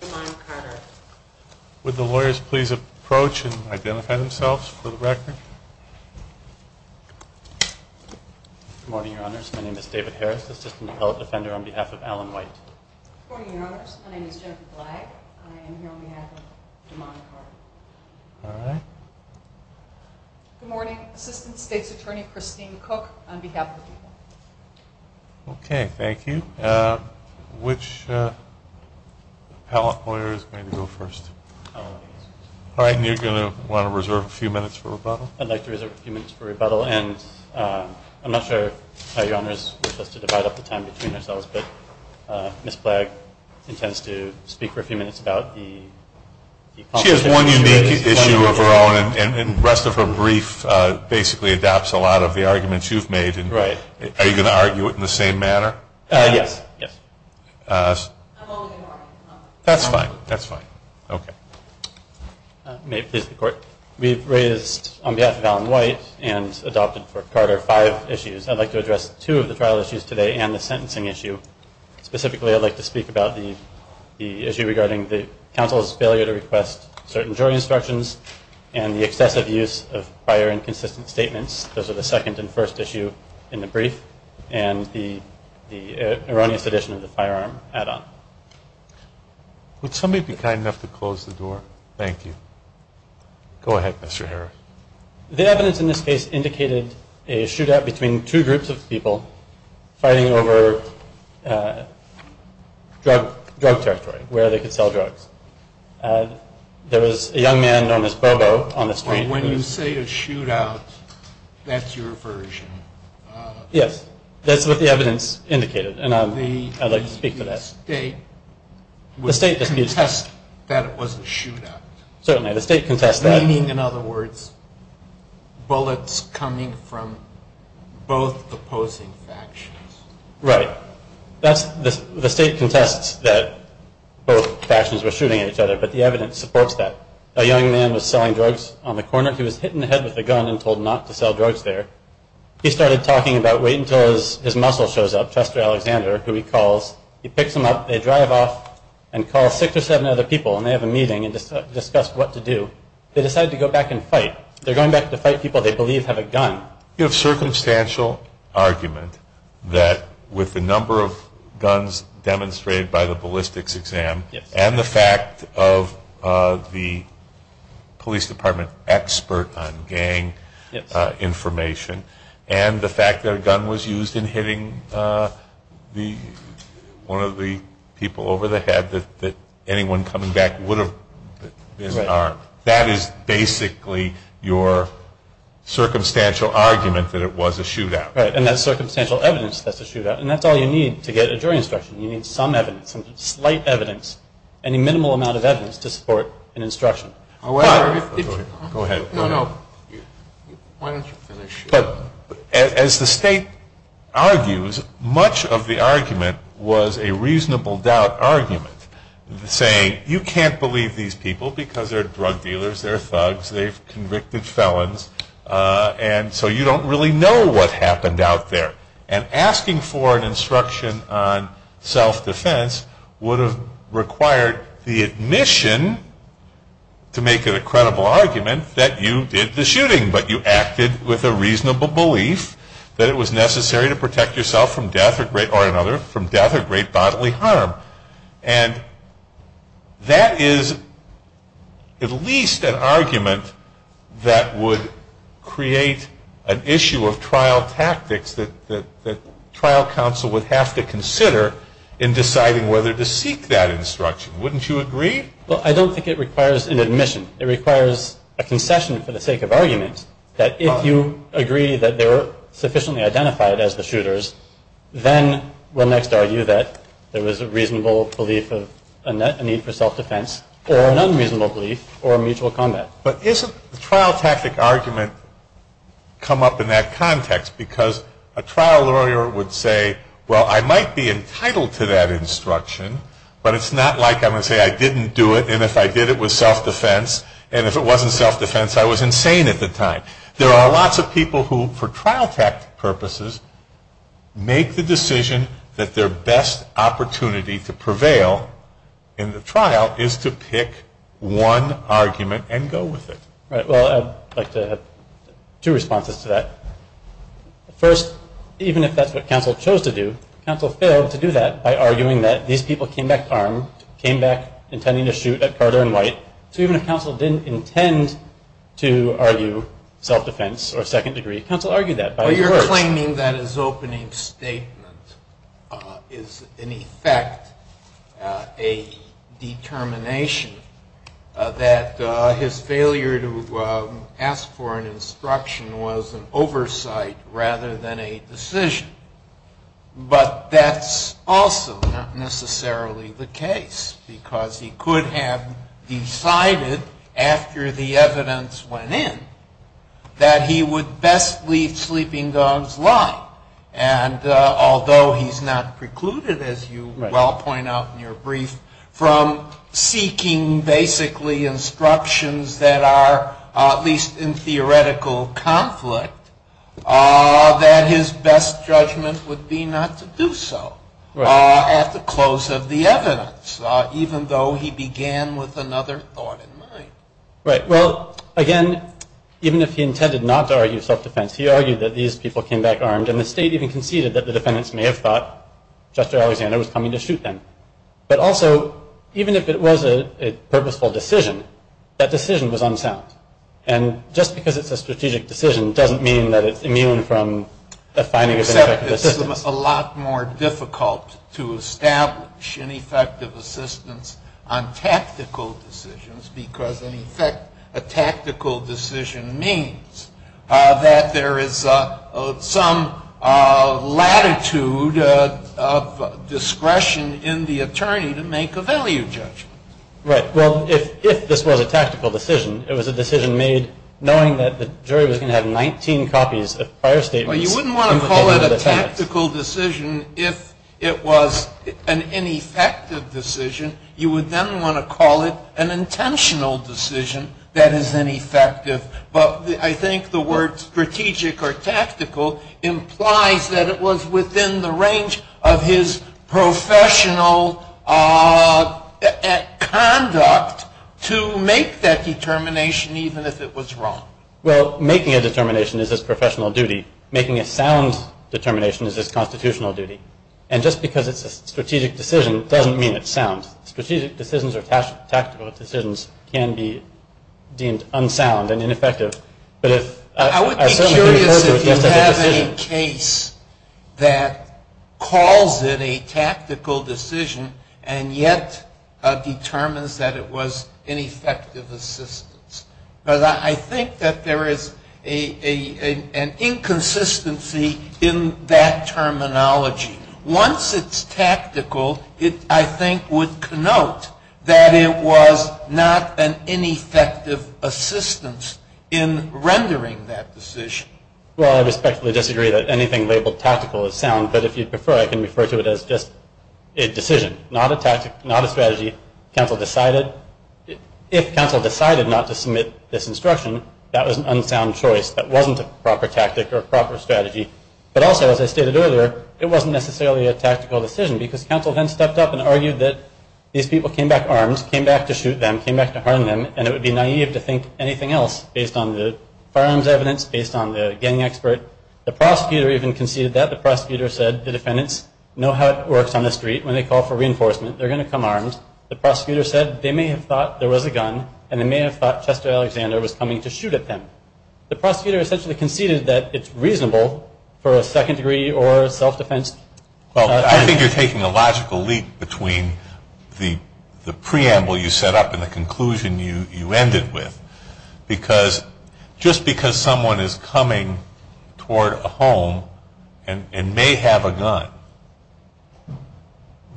Good morning, Your Honors. My name is Jennifer Blagg. I am here on behalf of DeMond and Carter. Good morning, Assistant State's Attorney Christine Cook, on behalf of the people. Okay, thank you. Which appellate lawyer is going to go first? All right, and you're going to want to reserve a few minutes for rebuttal. I'd like to reserve a few minutes for rebuttal. And I'm not sure how Your Honors wish us to divide up the time between ourselves, but Ms. Blagg intends to speak for a few minutes about the – She has one unique issue of her own, and the rest of her brief basically adopts a lot of the arguments you've made. Right. Are you going to argue it in the same manner? Yes. That's fine. That's fine. Okay. May it please the Court, we've raised on behalf of Alan White and adopted for Carter five issues. I'd like to address two of the trial issues today and the sentencing issue. Specifically, I'd like to speak about the issue regarding the counsel's failure to request certain jury instructions and the excessive use of prior inconsistent statements. Those are the second and first issue in the brief, and the erroneous addition of the firearm add-on. Would somebody be kind enough to close the door? Thank you. Go ahead, Mr. Harris. The evidence in this case indicated a shootout between two groups of people fighting over drug territory, where they could sell drugs. There was a young man known as Bobo on the street. When you say a shootout, that's your version? Yes. That's what the evidence indicated, and I'd like to speak to that. The state would contest that it was a shootout? Certainly. The state contests that. Meaning, in other words, bullets coming from both opposing factions? Right. The state contests that both factions were shooting at each other, but the evidence supports that. A young man was selling drugs on the corner. He was hit in the head with a gun and told not to sell drugs there. He started talking about wait until his muscle shows up, Chester Alexander, who he calls. He picks him up. They drive off and call six or seven other people, and they have a meeting and discuss what to do. They decide to go back and fight. They're going back to fight people they believe have a gun. You have circumstantial argument that with the number of guns demonstrated by the ballistics exam and the fact of the police department expert on gang information and the fact that a gun was used in hitting one of the people over the head that anyone coming back would have been armed. That is basically your circumstantial argument that it was a shootout. Right. And that's circumstantial evidence that's a shootout. And that's all you need to get a jury instruction. You need some evidence, some slight evidence, any minimal amount of evidence to support an instruction. Go ahead. No, no. Why don't you finish? But as the state argues, much of the argument was a reasonable doubt argument, saying you can't believe these people because they're drug dealers, they're thugs, they've convicted felons, and so you don't really know what happened out there. And asking for an instruction on self-defense would have required the admission to make a credible argument that you did the shooting, but you acted with a reasonable belief that it was necessary to protect yourself from death or great bodily harm. And that is at least an argument that would create an issue of trial tactics that trial counsel would have to consider in deciding whether to seek that instruction. Wouldn't you agree? Well, I don't think it requires an admission. It requires a concession for the sake of argument that if you agree that they're sufficiently identified as the shooters, then we'll next argue that there was a reasonable belief of a need for self-defense or an unreasonable belief or a mutual combat. But isn't the trial tactic argument come up in that context? Because a trial lawyer would say, well, I might be entitled to that instruction, but it's not like I'm going to say I didn't do it, and if I did it was self-defense, and if it wasn't self-defense, I was insane at the time. There are lots of people who, for trial tactic purposes, make the decision that their best opportunity to prevail in the trial is to pick one argument and go with it. Right. Well, I'd like to have two responses to that. First, even if that's what counsel chose to do, counsel failed to do that by arguing that these people came back armed, came back intending to shoot at Carter and White. So even if counsel didn't intend to argue self-defense or second-degree, counsel argued that. Well, you're claiming that his opening statement is, in effect, a determination that his failure to ask for an instruction was an oversight rather than a decision. But that's also not necessarily the case, because he could have decided after the evidence went in that he would best leave Sleeping Dogs' line. And although he's not precluded, as you well point out in your brief, from seeking basically instructions that are at least in theoretical conflict, that his best judgment would be not to do so at the close of the evidence, even though he began with another thought in mind. Right. Well, again, even if he intended not to argue self-defense, he argued that these people came back armed, and the State even conceded that the defendants may have thought Justice Alexander was coming to shoot them. But also, even if it was a purposeful decision, that decision was unsound. And just because it's a strategic decision doesn't mean that it's immune from the finding of an effective assistance. Except it's a lot more difficult to establish an effective assistance on tactical decisions, because, in effect, a tactical decision means that there is some latitude of discretion in the attorney to make a value judgment. Right. Well, if this was a tactical decision, it was a decision made knowing that the jury was going to have 19 copies of prior statements. Well, you wouldn't want to call it a tactical decision if it was an ineffective decision. You would then want to call it an intentional decision that is ineffective. But I think the word strategic or tactical implies that it was within the range of his professional conduct to make that determination, even if it was wrong. Well, making a determination is his professional duty. Making a sound determination is his constitutional duty. And just because it's a strategic decision doesn't mean it's sound. Strategic decisions or tactical decisions can be deemed unsound and ineffective. I would be curious if you have a case that calls it a tactical decision and yet determines that it was ineffective assistance. But I think that there is an inconsistency in that terminology. Once it's tactical, it, I think, would connote that it was not an ineffective assistance in rendering that decision. Well, I respectfully disagree that anything labeled tactical is sound. But if you prefer, I can refer to it as just a decision, not a tactic, not a strategy. Counsel decided. If counsel decided not to submit this instruction, that was an unsound choice. That wasn't a proper tactic or a proper strategy. But also, as I stated earlier, it wasn't necessarily a tactical decision because counsel then stepped up and argued that these people came back armed, came back to shoot them, came back to harm them, and it would be naive to think anything else based on the firearms evidence, based on the gang expert. The prosecutor even conceded that. The prosecutor said the defendants know how it works on the street. When they call for reinforcement, they're going to come armed. The prosecutor said they may have thought there was a gun and they may have thought Chester Alexander was coming to shoot at them. The prosecutor essentially conceded that it's reasonable for a second degree or self-defense. Well, I think you're taking a logical leap between the preamble you set up and the conclusion you ended with. Because just because someone is coming toward a home and may have a gun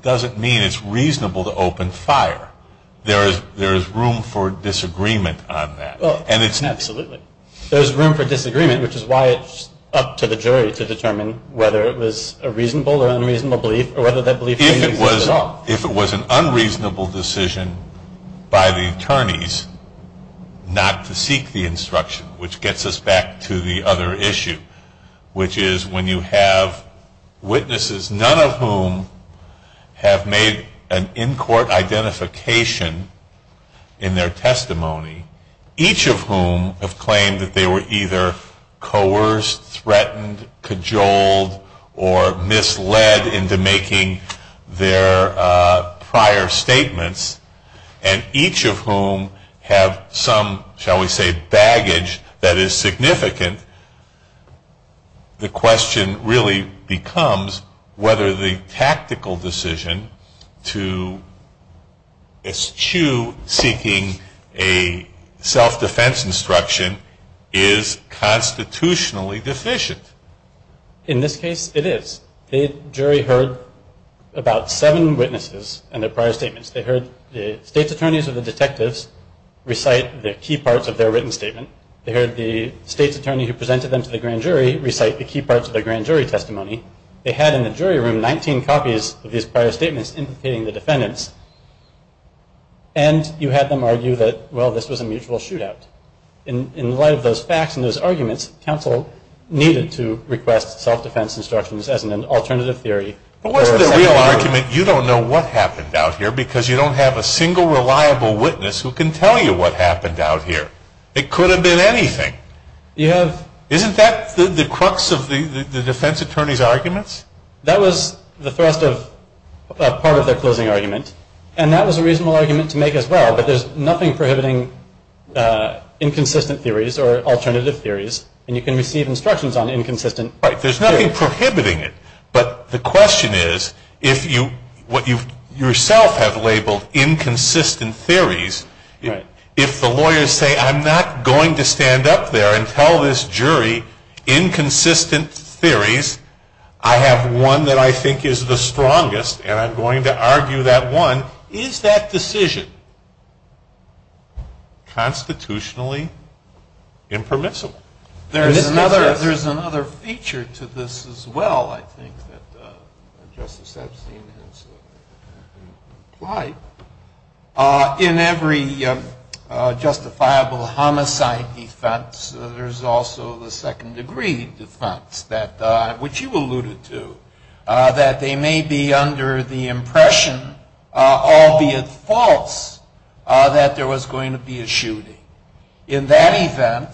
doesn't mean it's reasonable to open fire. There is room for disagreement on that. Absolutely. There is room for disagreement, which is why it's up to the jury to determine whether it was a reasonable or unreasonable belief or whether that belief is reasonable at all. If it was an unreasonable decision by the attorneys not to seek the instruction, which gets us back to the other issue, which is when you have witnesses, none of whom have made an in-court identification in their testimony, each of whom have claimed that they were either coerced, threatened, cajoled, or misled into making their prior statements, and each of whom have some, shall we say, baggage that is significant, the question really becomes whether the tactical decision to eschew seeking a self-defense instruction is constitutionally deficient. In this case, it is. The jury heard about seven witnesses and their prior statements. They heard the state's attorneys or the detectives recite the key parts of their written statement. They heard the state's attorney who presented them to the grand jury recite the key parts of their grand jury testimony. They had in the jury room 19 copies of these prior statements implicating the defendants, and you had them argue that, well, this was a mutual shootout. In light of those facts and those arguments, counsel needed to request self-defense instructions as an alternative theory. But what's the real argument? You don't know what happened out here because you don't have a single reliable witness who can tell you what happened out here. It could have been anything. Isn't that the crux of the defense attorney's arguments? That was the thrust of part of their closing argument, and that was a reasonable argument to make as well, but there's nothing prohibiting inconsistent theories or alternative theories, and you can receive instructions on inconsistent theories. Right. There's nothing prohibiting it, but the question is, what you yourself have labeled inconsistent theories, if the lawyers say I'm not going to stand up there and tell this jury inconsistent theories, I have one that I think is the strongest and I'm going to argue that one, is that decision constitutionally impermissible? There's another feature to this as well, I think, that Justice Epstein has implied. In every justifiable homicide defense, there's also the second-degree defense, which you alluded to, that they may be under the impression, albeit false, that there was going to be a shooting. In that event,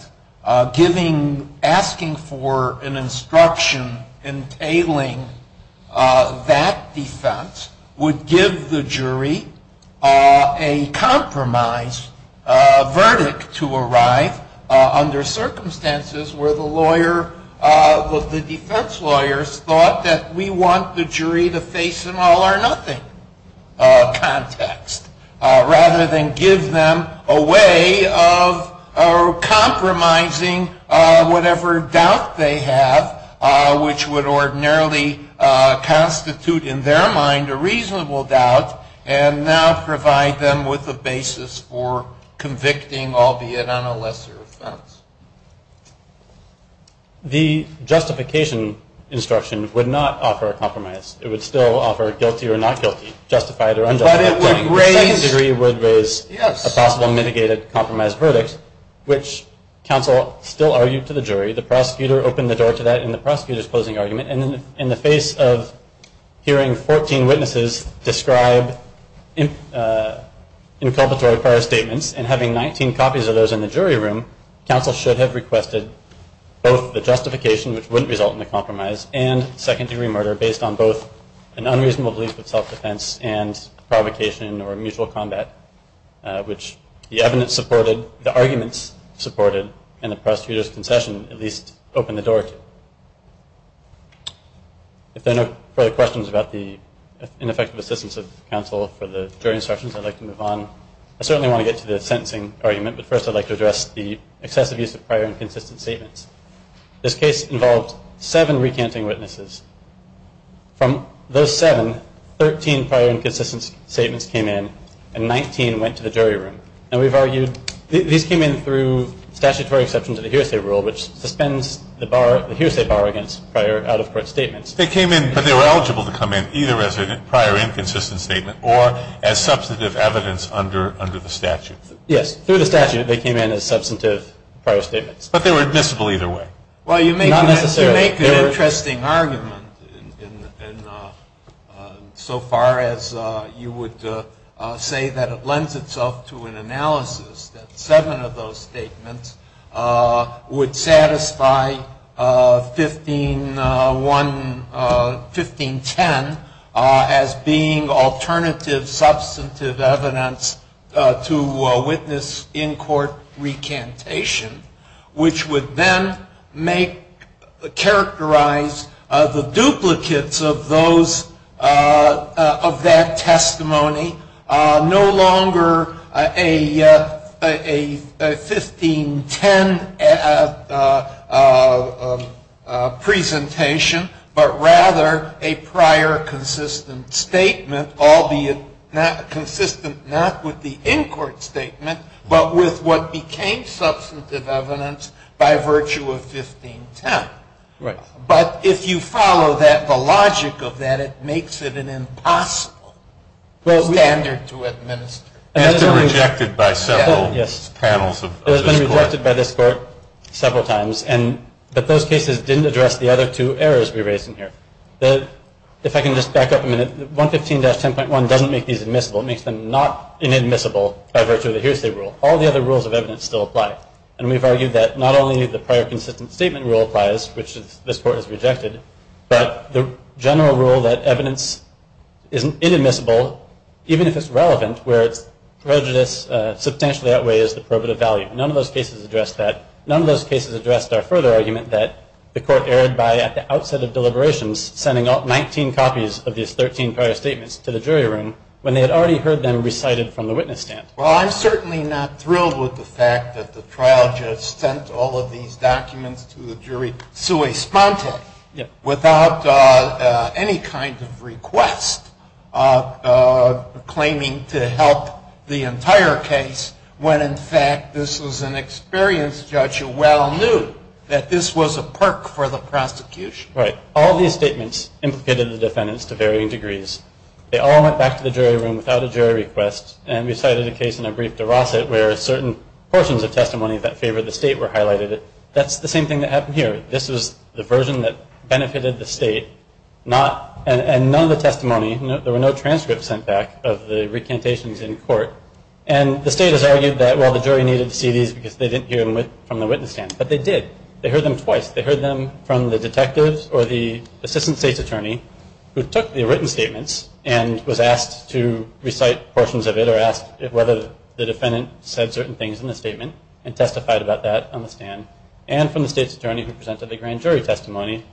asking for an instruction entailing that defense would give the jury a compromise verdict to arrive under circumstances where the defense lawyers thought that we want the jury to face an all-or-nothing context, rather than give them a way of compromising whatever doubt they have, which would ordinarily constitute in their mind a reasonable doubt, and now provide them with a basis for convicting, albeit on a lesser offense. The justification instruction would not offer a compromise. It would still offer guilty or not guilty, justified or unjustified. But it would raise a possible mitigated compromise verdict, which counsel still argued to the jury. The prosecutor opened the door to that in the prosecutor's closing argument. And in the face of hearing 14 witnesses describe inculpatory prior statements, and having 19 copies of those in the jury room, counsel should have requested both the justification, which wouldn't result in a compromise, and second-degree murder, based on both an unreasonable belief of self-defense and provocation or mutual combat, which the evidence supported, the arguments supported, and the prosecutor's concession at least opened the door to. If there are no further questions about the ineffective assistance of counsel for the jury instructions, I'd like to move on. I certainly want to get to the sentencing argument, but first I'd like to address the excessive use of prior and consistent statements. This case involved seven recanting witnesses. From those seven, 13 prior and consistent statements came in, and 19 went to the jury room. And we've argued these came in through statutory exceptions of the hearsay rule, which suspends the hearsay bar against prior out-of-court statements. They came in, but they were eligible to come in either as a prior and consistent statement or as substantive evidence under the statute. Yes. Through the statute, they came in as substantive prior statements. But they were admissible either way. Well, you make an interesting argument in so far as you would say that it lends itself to an analysis, that seven of those statements would satisfy 1510 as being alternative substantive evidence to witness in-court recantation. Which would then make, characterize the duplicates of those, of that testimony no longer a 1510 presentation, but rather a prior consistent statement, albeit consistent not with the in-court statement, but with what became substantive evidence by virtue of 1510. Right. But if you follow that, the logic of that, it makes it an impossible standard to administer. And it's been rejected by several panels of this court. It has been rejected by this court several times. But those cases didn't address the other two errors we raised in here. If I can just back up a minute, 115-10.1 doesn't make these admissible. It makes them not inadmissible by virtue of the hearsay rule. All the other rules of evidence still apply. And we've argued that not only the prior consistent statement rule applies, which this court has rejected, but the general rule that evidence is inadmissible, even if it's relevant, where its prejudice substantially outweighs the probative value. None of those cases addressed that. None of those cases addressed our further argument that the court erred by, at the outset of deliberations, sending out 19 copies of these 13 prior statements to the jury room when they had already heard them recited from the witness stand. Well, I'm certainly not thrilled with the fact that the trial just sent all of these documents to the jury sui sponte, without any kind of request claiming to help the entire case, when, in fact, this was an experienced judge who well knew that this was a perk for the prosecution. Right. All these statements implicated the defendants to varying degrees. They all went back to the jury room without a jury request. And we cited a case in a brief de Rosset where certain portions of testimony that favored the state were highlighted. That's the same thing that happened here. This was the version that benefited the state, and none of the testimony, there were no transcripts sent back of the recantations in court. And the state has argued that, well, the jury needed to see these because they didn't hear them from the witness stand. But they did. They heard them twice. They heard them from the detective or the assistant state's attorney who took the written statements and was asked to recite portions of it or asked whether the defendant said certain things in the statement and testified about that on the stand, and from the state's attorney who presented a grand jury testimony.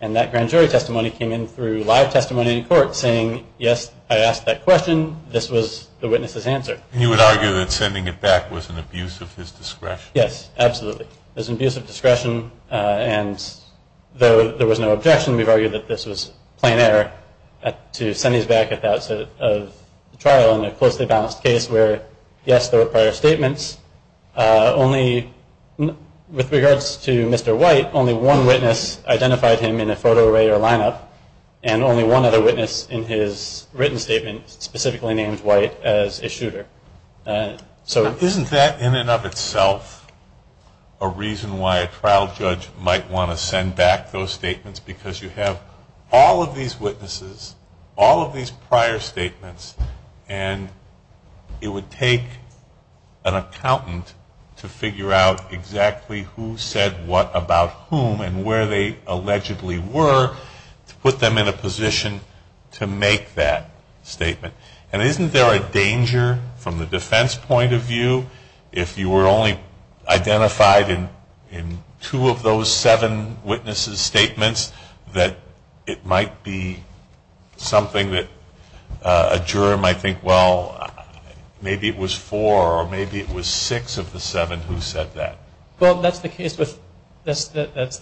And that grand jury testimony came in through live testimony in court saying, yes, I asked that question. This was the witness's answer. And you would argue that sending it back was an abuse of his discretion? Yes, absolutely. It was an abuse of discretion. And though there was no objection, we've argued that this was plain error to send these back at the outset of trial in a closely balanced case where, yes, there were prior statements. Only with regards to Mr. White, only one witness identified him in a photo array or lineup, and only one other witness in his written statement specifically named White as a shooter. So isn't that in and of itself a reason why a trial judge might want to send back those statements because you have all of these witnesses, all of these prior statements, and it would take an accountant to figure out exactly who said what about whom and where they allegedly were to put them in a position to make that statement? And isn't there a danger from the defense point of view, if you were only identified in two of those seven witnesses' statements, that it might be something that a juror might think, well, maybe it was four or maybe it was six of the seven who said that? Well, that's the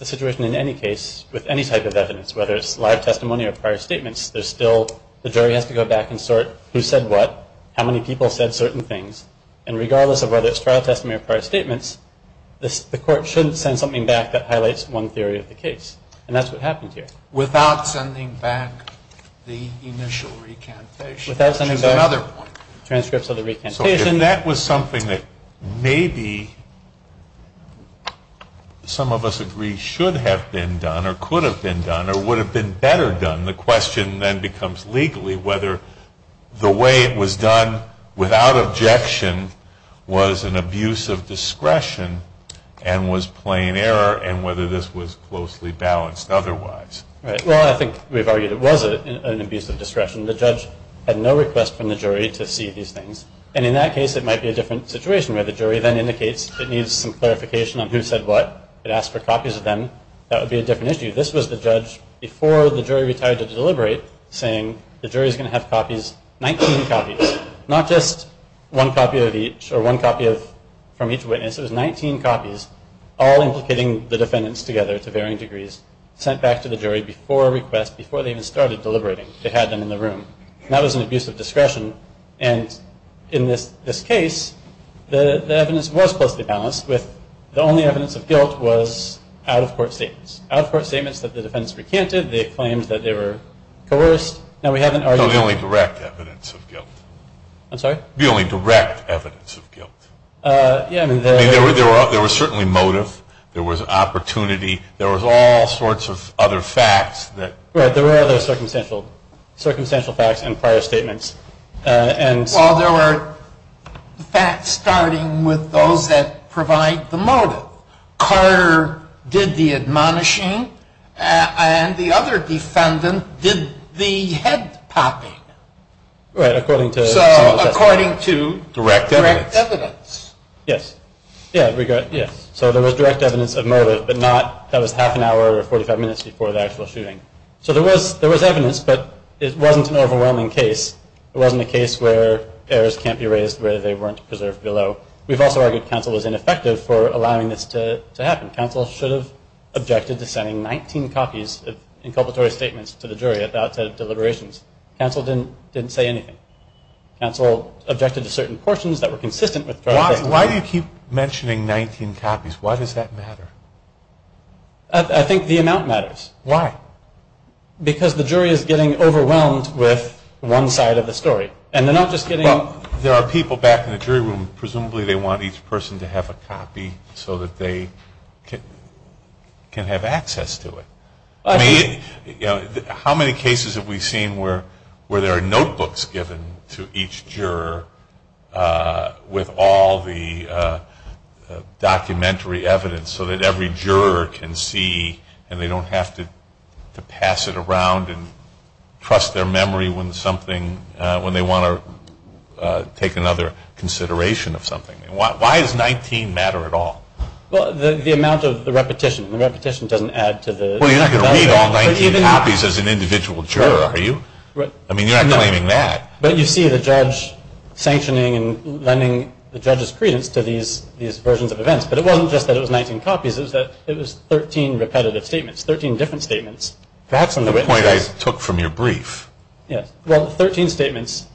situation in any case with any type of evidence, whether it's live testimony or prior statements. There's still the jury has to go back and sort who said what, how many people said certain things, and regardless of whether it's trial testimony or prior statements, the court shouldn't send something back that highlights one theory of the case, and that's what happened here. Without sending back the initial recantation? Without sending back transcripts of the recantation. So if that was something that maybe some of us agree should have been done or could have been done or would have been better done, the question then becomes legally whether the way it was done without objection was an abuse of discretion and was plain error, and whether this was closely balanced otherwise. Well, I think we've argued it was an abuse of discretion. The judge had no request from the jury to see these things, and in that case it might be a different situation where the jury then indicates it needs some clarification on who said what. It asks for copies of them. That would be a different issue. This was the judge before the jury retired to deliberate saying the jury is going to have copies, 19 copies, not just one copy of each or one copy from each witness. It was 19 copies, all implicating the defendants together to varying degrees, sent back to the jury before request, before they even started deliberating. They had them in the room. That was an abuse of discretion, and in this case, the evidence was closely balanced with the only evidence of guilt was out-of-court statements. Out-of-court statements that the defendants recanted. They claimed that they were coerced. Now, we haven't argued. No, the only direct evidence of guilt. I'm sorry? The only direct evidence of guilt. There was certainly motive. There was opportunity. There was all sorts of other facts. Right. There were other circumstantial facts and prior statements. Well, there were facts starting with those that provide the motive. Carter did the admonishing, and the other defendant did the head-popping. Right, according to some of the testimony. So, according to direct evidence. Yes. Yeah, yes. So, there was direct evidence of motive, but not, that was half an hour or 45 minutes before the actual shooting. So, there was evidence, but it wasn't an overwhelming case. It wasn't a case where errors can't be raised, where they weren't preserved below. We've also argued counsel was ineffective for allowing this to happen. Counsel should have objected to sending 19 copies of inculpatory statements to the jury at the outset of deliberations. Counsel didn't say anything. Counsel objected to certain portions that were consistent with direct evidence. Why do you keep mentioning 19 copies? Why does that matter? I think the amount matters. Why? Because the jury is getting overwhelmed with one side of the story, and they're not just getting... Well, there are people back in the jury room, presumably they want each person to have a copy so that they can have access to it. I mean, how many cases have we seen where there are notebooks given to each juror with all the documentary evidence so that every juror can see and they don't have to pass it around and trust their memory when they want to take another consideration of something? Why does 19 matter at all? Well, the amount of the repetition. The repetition doesn't add to the... Well, you're not going to read all 19 copies as an individual juror, are you? I mean, you're not claiming that. But you see the judge sanctioning and lending the judge's credence to these versions of events. Yes, but it wasn't just that it was 19 copies. It was 13 repetitive statements, 13 different statements. That's the point I took from your brief. Yes. Well, 13 statements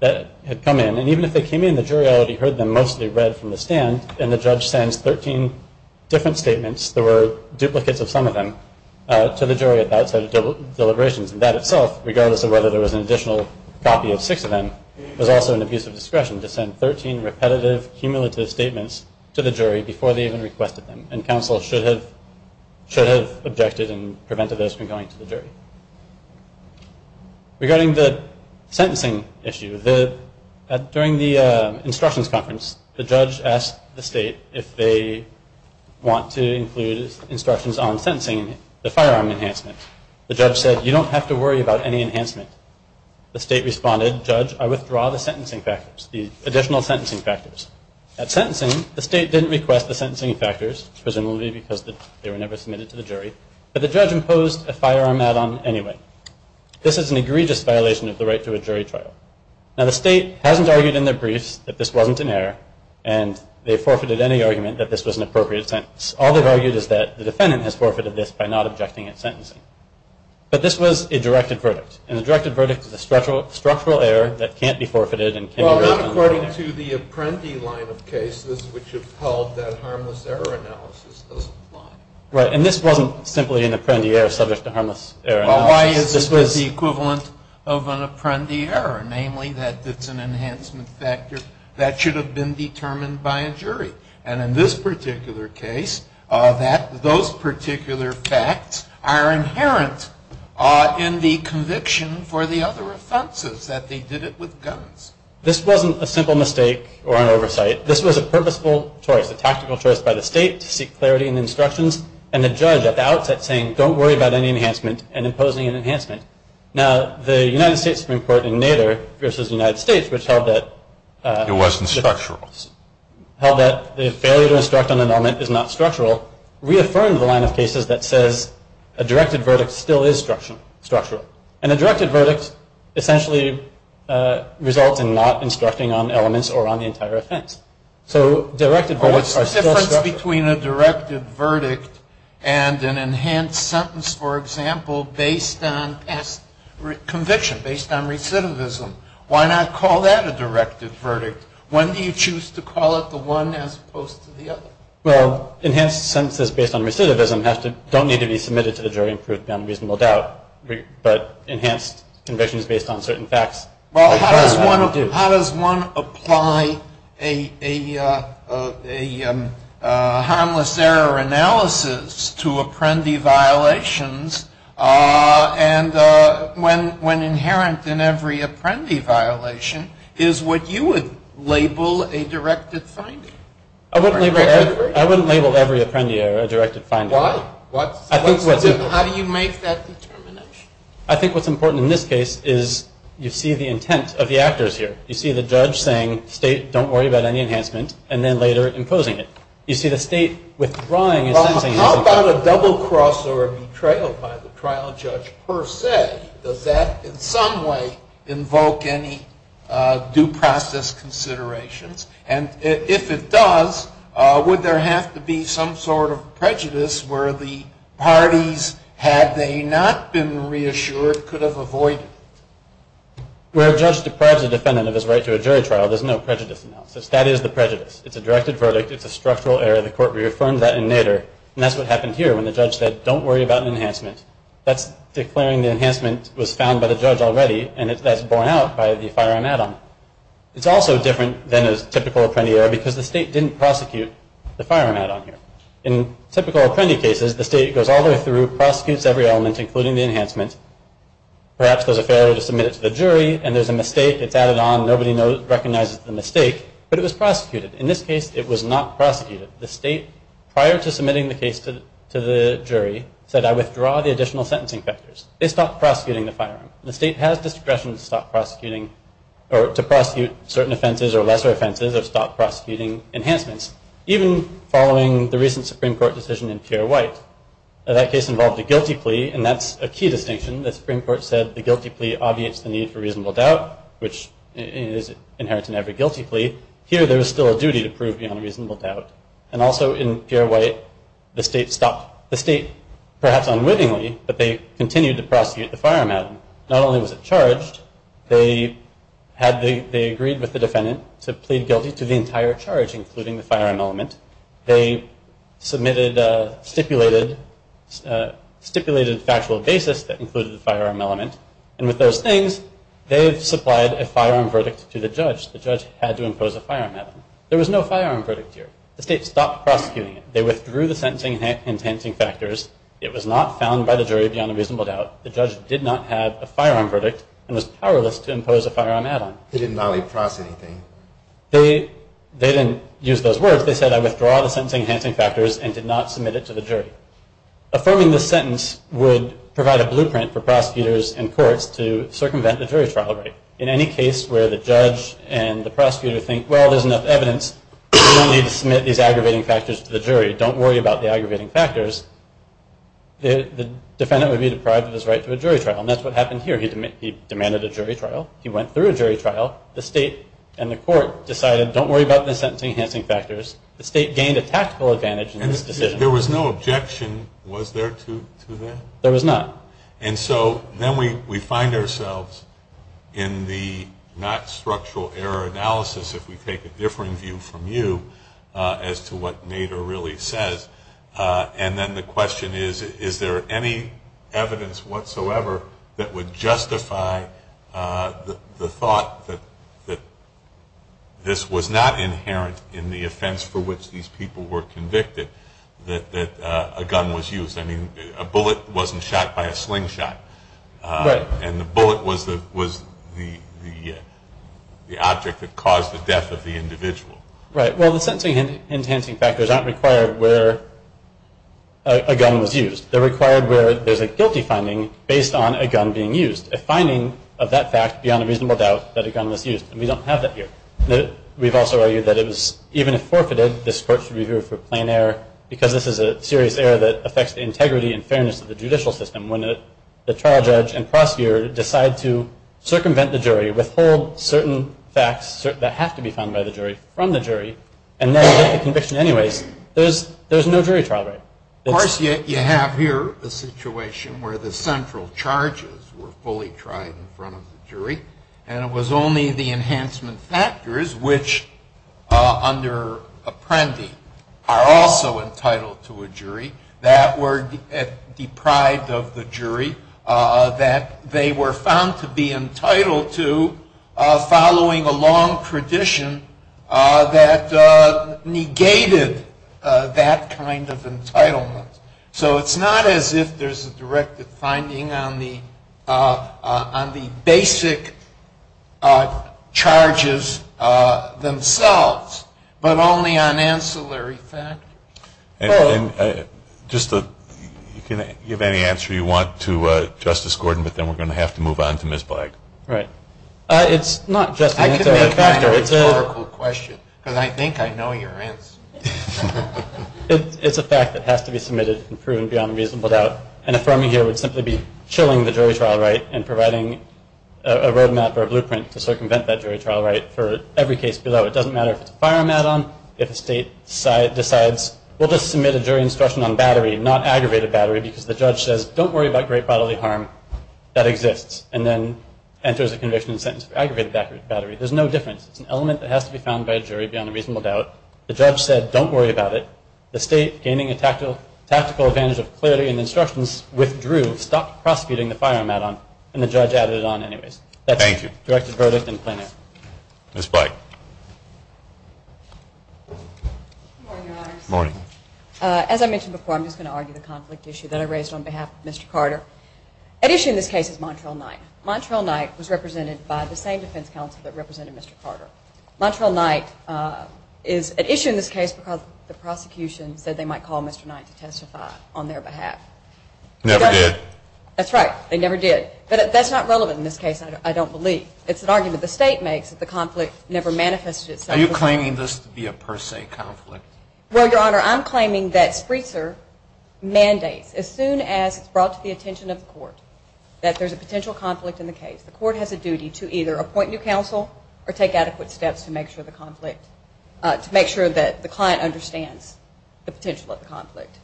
had come in, and even if they came in, the jury already heard them mostly read from the stand, and the judge sends 13 different statements. There were duplicates of some of them to the jury at that set of deliberations, and that itself, regardless of whether there was an additional copy of six of them, was also an abuse of discretion to send 13 repetitive, cumulative statements to the jury before they even requested them, and counsel should have objected and prevented those from going to the jury. Regarding the sentencing issue, during the instructions conference, the judge asked the state if they want to include instructions on sentencing, the firearm enhancement. The judge said, you don't have to worry about any enhancement. The state responded, judge, I withdraw the sentencing factors, the additional sentencing factors. At sentencing, the state didn't request the sentencing factors, presumably because they were never submitted to the jury, but the judge imposed a firearm add-on anyway. This is an egregious violation of the right to a jury trial. Now, the state hasn't argued in their briefs that this wasn't an error, and they forfeited any argument that this was an appropriate sentence. All they've argued is that the defendant has forfeited this by not objecting at sentencing. But this was a directed verdict, and a directed verdict is a structural error that can't be forfeited. Well, not according to the Apprendi line of cases, which have held that harmless error analysis doesn't apply. Right, and this wasn't simply an Apprendi error subject to harmless error analysis. Well, why is it the equivalent of an Apprendi error, namely that it's an enhancement factor that should have been determined by a jury? And in this particular case, those particular facts are inherent in the conviction for the other offenses, that they did it with guns. This wasn't a simple mistake or an oversight. This was a purposeful choice, a tactical choice by the state to seek clarity in the instructions, and the judge at the outset saying, don't worry about any enhancement, and imposing an enhancement. Now, the United States Supreme Court in Nader versus the United States, which held that It wasn't structural. held that the failure to instruct on an element is not structural, reaffirmed the line of cases that says a directed verdict still is structural. And a directed verdict essentially results in not instructing on elements or on the entire offense. So directed verdicts are still structural. What's the difference between a directed verdict and an enhanced sentence, for example, based on conviction, based on recidivism? Why not call that a directed verdict? When do you choose to call it the one as opposed to the other? Well, enhanced sentences based on recidivism don't need to be submitted to the jury and proved beyond reasonable doubt. But enhanced convictions based on certain facts. Well, how does one apply a harmless error analysis to apprendee violations and when inherent in every apprendee violation is what you would label a directed finding? I wouldn't label every apprendee error a directed finding. Why? How do you make that determination? I think what's important in this case is you see the intent of the actors here. You see the judge saying, state, don't worry about any enhancement, and then later imposing it. You see the state withdrawing a sentencing. How about a double cross or a betrayal by the trial judge per se? Does that in some way invoke any due process considerations? And if it does, would there have to be some sort of prejudice where the parties, had they not been reassured, could have avoided it? Where a judge deprives a defendant of his right to a jury trial, there's no prejudice analysis. That is the prejudice. It's a directed verdict. It's a structural error. The court reaffirmed that in Nader, and that's what happened here when the judge said, don't worry about an enhancement. That's declaring the enhancement was found by the judge already, and that's borne out by the firearm add-on. It's also different than a typical apprendee error because the state didn't prosecute the firearm add-on here. In typical apprendee cases, the state goes all the way through, prosecutes every element, including the enhancement. Perhaps there's a failure to submit it to the jury, and there's a mistake. It's added on. Nobody recognizes the mistake, but it was prosecuted. In this case, it was not prosecuted. The state, prior to submitting the case to the jury, said, I withdraw the additional sentencing factors. They stopped prosecuting the firearm. The state has discretion to stop prosecuting or to prosecute certain offenses or lesser offenses or stop prosecuting enhancements. Even following the recent Supreme Court decision in Pierre White, that case involved a guilty plea, and that's a key distinction. The Supreme Court said the guilty plea obviates the need for reasonable doubt, which is inherent in every guilty plea. Here, there is still a duty to prove beyond reasonable doubt. And also in Pierre White, the state perhaps unwittingly, but they continued to prosecute the firearm add-on. Not only was it charged, they agreed with the defendant to plead guilty to the entire charge, including the firearm element. They submitted a stipulated factual basis that included the firearm element, and with those things, they've supplied a firearm verdict to the judge. The judge had to impose a firearm add-on. There was no firearm verdict here. The state stopped prosecuting it. They withdrew the sentencing enhancing factors. It was not found by the jury beyond a reasonable doubt. The judge did not have a firearm verdict and was powerless to impose a firearm add-on. They didn't not only prosecute anything. They didn't use those words. They said, I withdraw the sentencing enhancing factors and did not submit it to the jury. Affirming the sentence would provide a blueprint for prosecutors and courts to circumvent the jury trial rate. In any case where the judge and the prosecutor think, well, there's enough evidence. We don't need to submit these aggravating factors to the jury. Don't worry about the aggravating factors. The defendant would be deprived of his right to a jury trial, and that's what happened here. He demanded a jury trial. He went through a jury trial. The state and the court decided, don't worry about the sentencing enhancing factors. The state gained a tactical advantage in this decision. There was no objection, was there, to that? There was not. And so then we find ourselves in the not structural error analysis, if we take a differing view from you, as to what Nader really says. And then the question is, is there any evidence whatsoever that would justify the thought that this was not inherent in the offense for which these people were convicted, that a gun was used. I mean, a bullet wasn't shot by a slingshot. Right. And the bullet was the object that caused the death of the individual. Right. Well, the sentencing enhancing factors aren't required where a gun was used. They're required where there's a guilty finding based on a gun being used, a finding of that fact beyond a reasonable doubt that a gun was used. And we don't have that here. We've also argued that it was, even if forfeited, this court should review it for plain error that affects the integrity and fairness of the judicial system when the trial judge and prosecutor decide to circumvent the jury, withhold certain facts that have to be found by the jury from the jury, and then get the conviction anyways, there's no jury trial right. Of course, you have here a situation where the central charges were fully tried in front of the jury, and it was only the enhancement factors, which under Apprendi are also entitled to a jury, that were deprived of the jury that they were found to be entitled to following a long tradition that negated that kind of entitlement. So it's not as if there's a directed finding on the basic charges themselves, but only on ancillary factors. And just to give any answer you want to Justice Gordon, but then we're going to have to move on to Ms. Black. Right. It's not just an ancillary factor. It's a historical question, because I think I know your answer. It's a fact that has to be submitted and proven beyond a reasonable doubt. And affirming here would simply be chilling the jury trial right and providing a roadmap or a blueprint to circumvent that jury trial right for every case below. It doesn't matter if it's a firearm add-on, if a state decides, we'll just submit a jury instruction on battery, not aggravated battery, because the judge says, don't worry about great bodily harm, that exists, and then enters a conviction and sentence for aggravated battery. There's no difference. It's an element that has to be found by a jury beyond a reasonable doubt. The judge said, don't worry about it. The state, gaining a tactical advantage of clarity in the instructions, withdrew, stopped prosecuting the firearm add-on, and the judge added it on anyways. Thank you. That's the directed verdict in plain air. Ms. Black. Good morning, Your Honors. Good morning. As I mentioned before, I'm just going to argue the conflict issue that I raised on behalf of Mr. Carter. At issue in this case is Montrell Knight. Montrell Knight was represented by the same defense counsel that represented Mr. Carter. Montrell Knight is at issue in this case because the prosecution said they might call Mr. Knight to testify on their behalf. Never did. That's right. They never did. But that's not relevant in this case, I don't believe. It's an argument the state makes that the conflict never manifested itself. Are you claiming this to be a per se conflict? Well, Your Honor, I'm claiming that Spreetser mandates, as soon as it's brought to the attention of the court, that there's a potential conflict in the case. The court has a duty to either appoint new counsel or take adequate steps to make sure the conflict, to make sure that the client understands the potential of the conflict.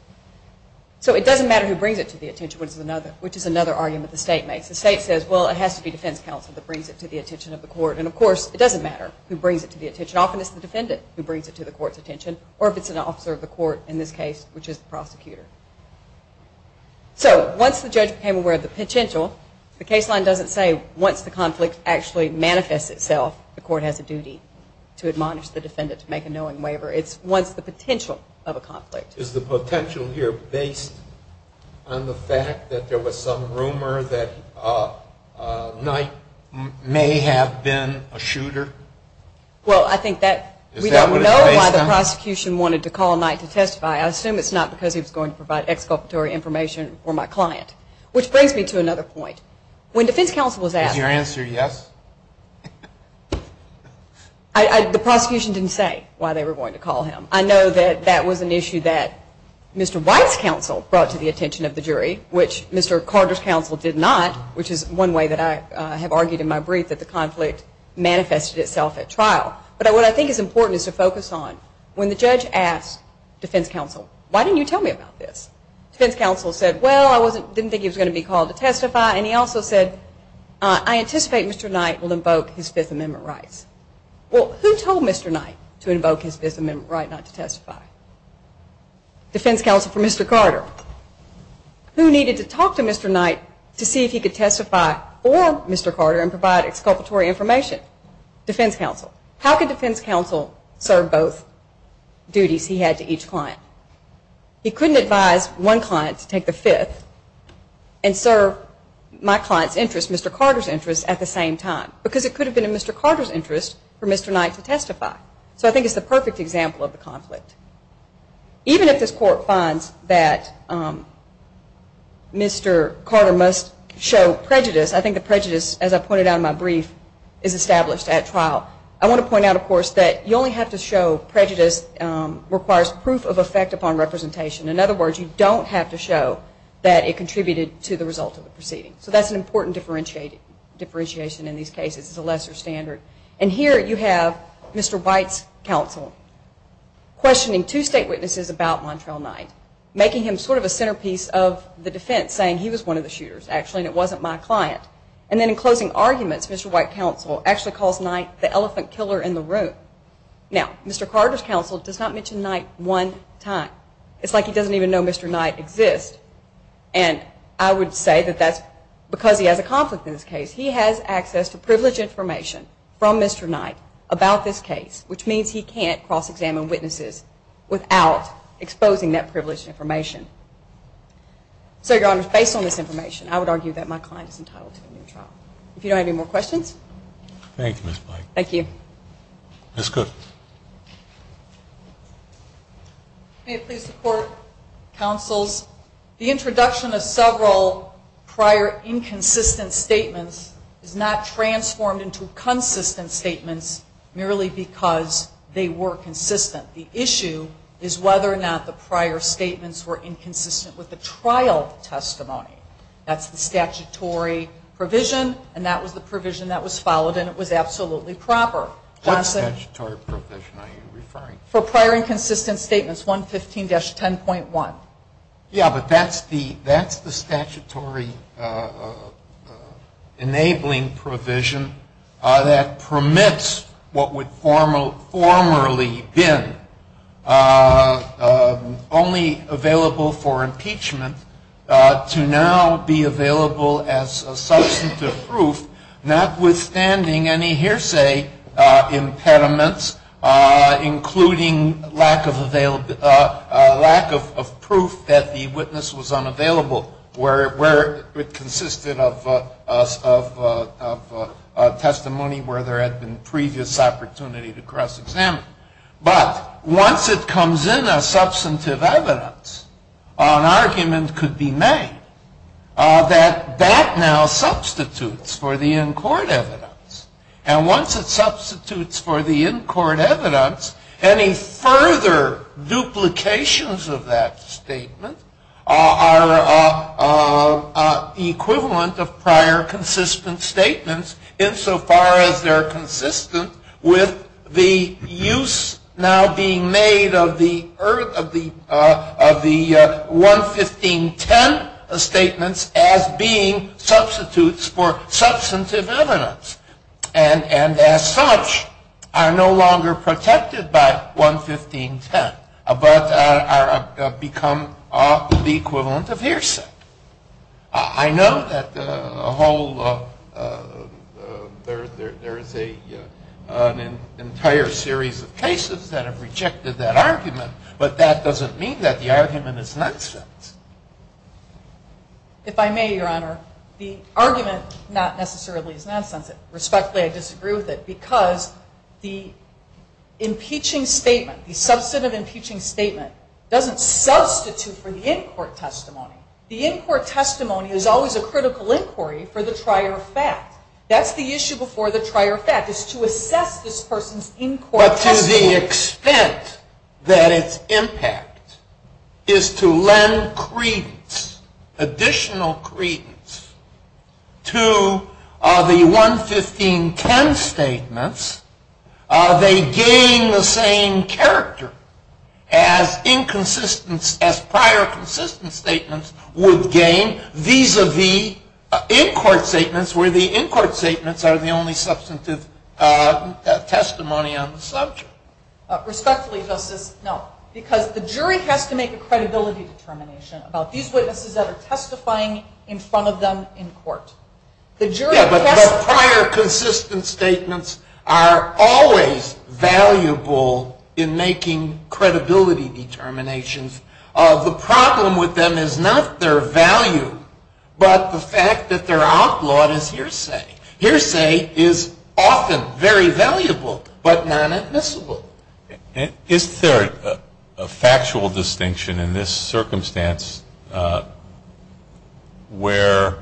So it doesn't matter who brings it to the attention, which is another argument the state makes. The state says, well, it has to be defense counsel that brings it to the attention of the court. And, of course, it doesn't matter who brings it to the attention. Often it's the defendant who brings it to the court's attention, or if it's an officer of the court in this case, which is the prosecutor. So once the judge became aware of the potential, the case line doesn't say once the conflict actually manifests itself, the court has a duty to admonish the defendant to make a knowing waiver. It's once the potential of a conflict. Is the potential here based on the fact that there was some rumor that Knight may have been a shooter? Well, I think that we don't know why the prosecution wanted to call Knight to testify. I assume it's not because he was going to provide exculpatory information for my client, which brings me to another point. When defense counsel was asked… Is your answer yes? The prosecution didn't say why they were going to call him. I know that that was an issue that Mr. White's counsel brought to the attention of the jury, which Mr. Carter's counsel did not, which is one way that I have argued in my brief that the conflict manifested itself at trial. But what I think is important is to focus on when the judge asked defense counsel, why didn't you tell me about this? Defense counsel said, well, I didn't think he was going to be called to testify. And he also said, I anticipate Mr. Knight will invoke his Fifth Amendment rights. Well, who told Mr. Knight to invoke his Fifth Amendment right not to testify? Defense counsel for Mr. Carter. Who needed to talk to Mr. Knight to see if he could testify or Mr. Carter and provide exculpatory information? Defense counsel. How could defense counsel serve both duties he had to each client? He couldn't advise one client to take the fifth and serve my client's interest, Mr. Carter's interest, at the same time. Because it could have been in Mr. Carter's interest for Mr. Knight to testify. So I think it's the perfect example of the conflict. Even if this court finds that Mr. Carter must show prejudice, I think the prejudice, as I pointed out in my brief, is established at trial. I want to point out, of course, that you only have to show prejudice requires proof of effect upon representation. In other words, you don't have to show that it contributed to the result of the proceeding. So that's an important differentiation in these cases. It's a lesser standard. And here you have Mr. White's counsel questioning two state witnesses about Montrell Knight, making him sort of a centerpiece of the defense, and saying he was one of the shooters, actually, and it wasn't my client. And then in closing arguments, Mr. White's counsel actually calls Knight the elephant killer in the room. Now, Mr. Carter's counsel does not mention Knight one time. It's like he doesn't even know Mr. Knight exists. And I would say that that's because he has a conflict in this case. He has access to privileged information from Mr. Knight about this case, which means he can't cross-examine witnesses without exposing that privileged information. So, Your Honors, based on this information, I would argue that my client is entitled to a new trial. If you don't have any more questions. Thank you, Ms. White. Thank you. Ms. Cook. May it please the Court, counsels, the introduction of several prior inconsistent statements is not transformed into consistent statements merely because they were consistent. The issue is whether or not the prior statements were inconsistent with the trial testimony. That's the statutory provision, and that was the provision that was followed, and it was absolutely proper. What statutory provision are you referring to? For prior inconsistent statements, 115-10.1. Yeah, but that's the statutory enabling provision that permits what would formerly have been only available for impeachment to now be available as substantive proof, notwithstanding any hearsay impediments, including lack of proof that the witness was unavailable, where it consisted of testimony where there had been previous opportunity to cross-examine. But once it comes in as substantive evidence, an argument could be made that that now substitutes for the in-court evidence. And once it substitutes for the in-court evidence, any further duplications of that statement are the equivalent of prior consistent statements, insofar as they're consistent with the use now being made of the 115-10 statements as being substitutes for substantive evidence, and as such are no longer protected by 115-10, but have become the equivalent of hearsay. I know that there is an entire series of cases that have rejected that argument, but that doesn't mean that the argument is nonsense. If I may, Your Honor, the argument not necessarily is nonsense. Respectfully, I disagree with it, because the impeaching statement, the substantive impeaching statement, doesn't substitute for the in-court testimony. The in-court testimony is always a critical inquiry for the prior fact. That's the issue before the prior fact, is to assess this person's in-court testimony. But to the extent that its impact is to lend credence, additional credence, to the 115-10 statements, they gain the same character as prior consistent statements would gain vis-a-vis in-court statements, where the in-court statements are the only substantive testimony on the subject. Respectfully, Justice, no, because the jury has to make a credibility determination about these witnesses that are testifying in front of them in court. Yeah, but the prior consistent statements are always valuable in making credibility determinations. The problem with them is not their value, but the fact that they're outlawed as hearsay. Hearsay is often very valuable, but not admissible. Is there a factual distinction in this circumstance where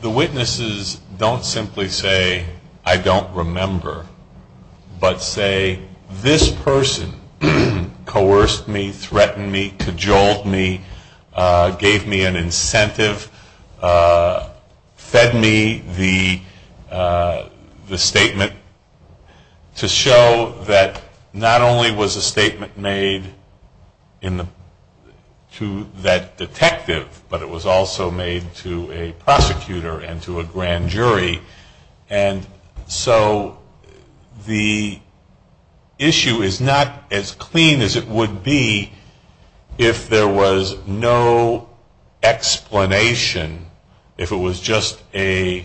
the witnesses don't simply say, I don't remember, but say, this person coerced me, threatened me, cajoled me, gave me an incentive, fed me the statement to show that not only was a statement made to that detective, but it was also made to a prosecutor and to a grand jury. And so the issue is not as clean as it would be if there was no explanation, if it was just a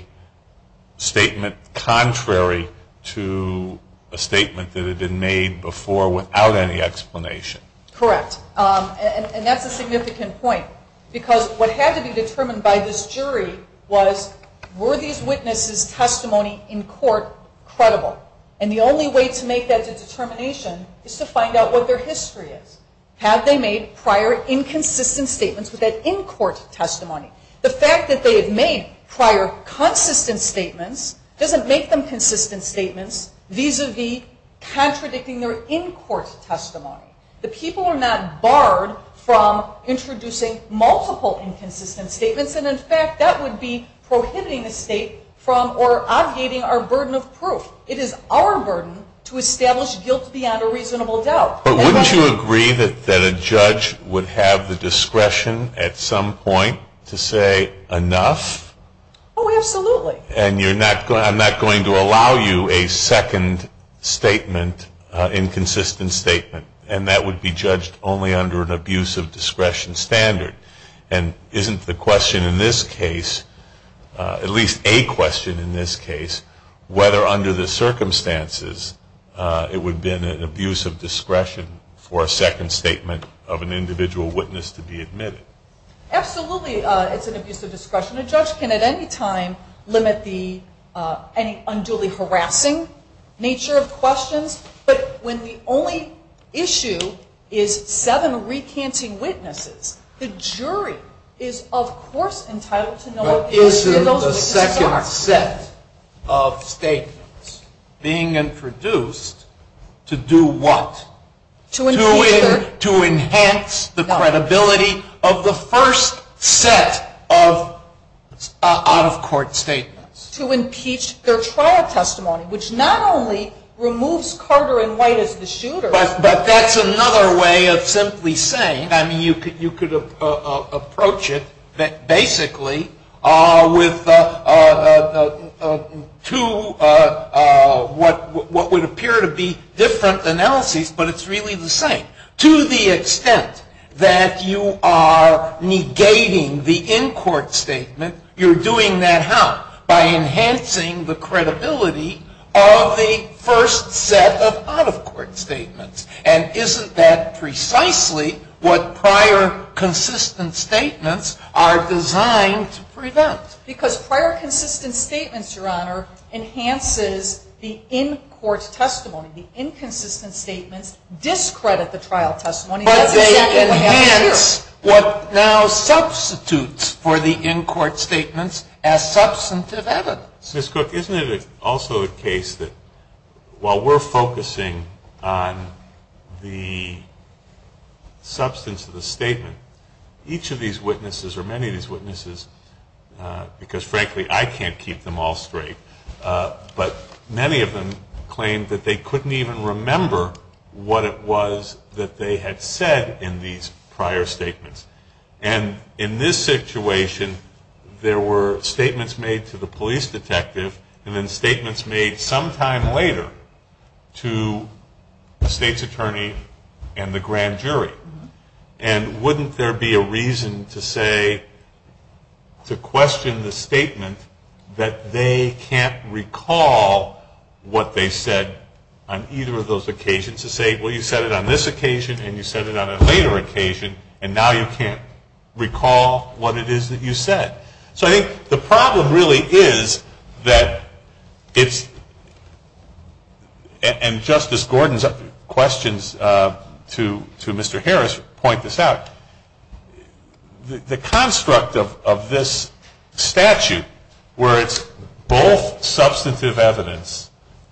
statement contrary to a statement that had been made before without any explanation. Correct, and that's a significant point, because what had to be determined by this jury was, were these witnesses' testimony in court credible? And the only way to make that determination is to find out what their history is. Have they made prior inconsistent statements with that in-court testimony? The fact that they have made prior consistent statements doesn't make them consistent statements vis-a-vis contradicting their in-court testimony. The people are not barred from introducing multiple inconsistent statements, and, in fact, that would be prohibiting the state from or obviating our burden of proof. It is our burden to establish guilt beyond a reasonable doubt. But wouldn't you agree that a judge would have the discretion at some point to say enough? Oh, absolutely. And I'm not going to allow you a second statement, inconsistent statement, and that would be judged only under an abuse of discretion standard. And isn't the question in this case, at least a question in this case, whether under the circumstances it would have been an abuse of discretion for a second statement of an individual witness to be admitted? Absolutely it's an abuse of discretion. A judge can at any time limit any unduly harassing nature of questions. But when the only issue is seven recanting witnesses, the jury is, of course, entitled to know if those witnesses are. But isn't the second set of statements being introduced to do what? To impeach their. To enhance the credibility of the first set of out-of-court statements. To impeach their trial testimony, which not only removes Carter and White as the shooters. But that's another way of simply saying, I mean, you could approach it basically with two what would appear to be different analyses, but it's really the same. To the extent that you are negating the in-court statement, you're doing that how? By enhancing the credibility of the first set of out-of-court statements. And isn't that precisely what prior consistent statements are designed to prevent? Because prior consistent statements, Your Honor, enhances the in-court testimony. The inconsistent statements discredit the trial testimony. But they enhance what now substitutes for the in-court statements as substantive evidence. Ms. Cook, isn't it also the case that while we're focusing on the substance of the statement, each of these witnesses, or many of these witnesses, because frankly I can't keep them all straight, but many of them claim that they couldn't even remember what it was that they had said in these prior statements. And in this situation, there were statements made to the police detective, and then statements made sometime later to the state's attorney and the grand jury. And wouldn't there be a reason to say, to question the statement, that they can't recall what they said on either of those occasions? To say, well, you said it on this occasion, and you said it on a later occasion, and now you can't recall what it is that you said. So I think the problem really is that it's, and Justice Gordon's questions to Mr. Harris point this out, the construct of this statute, where it's both substantive evidence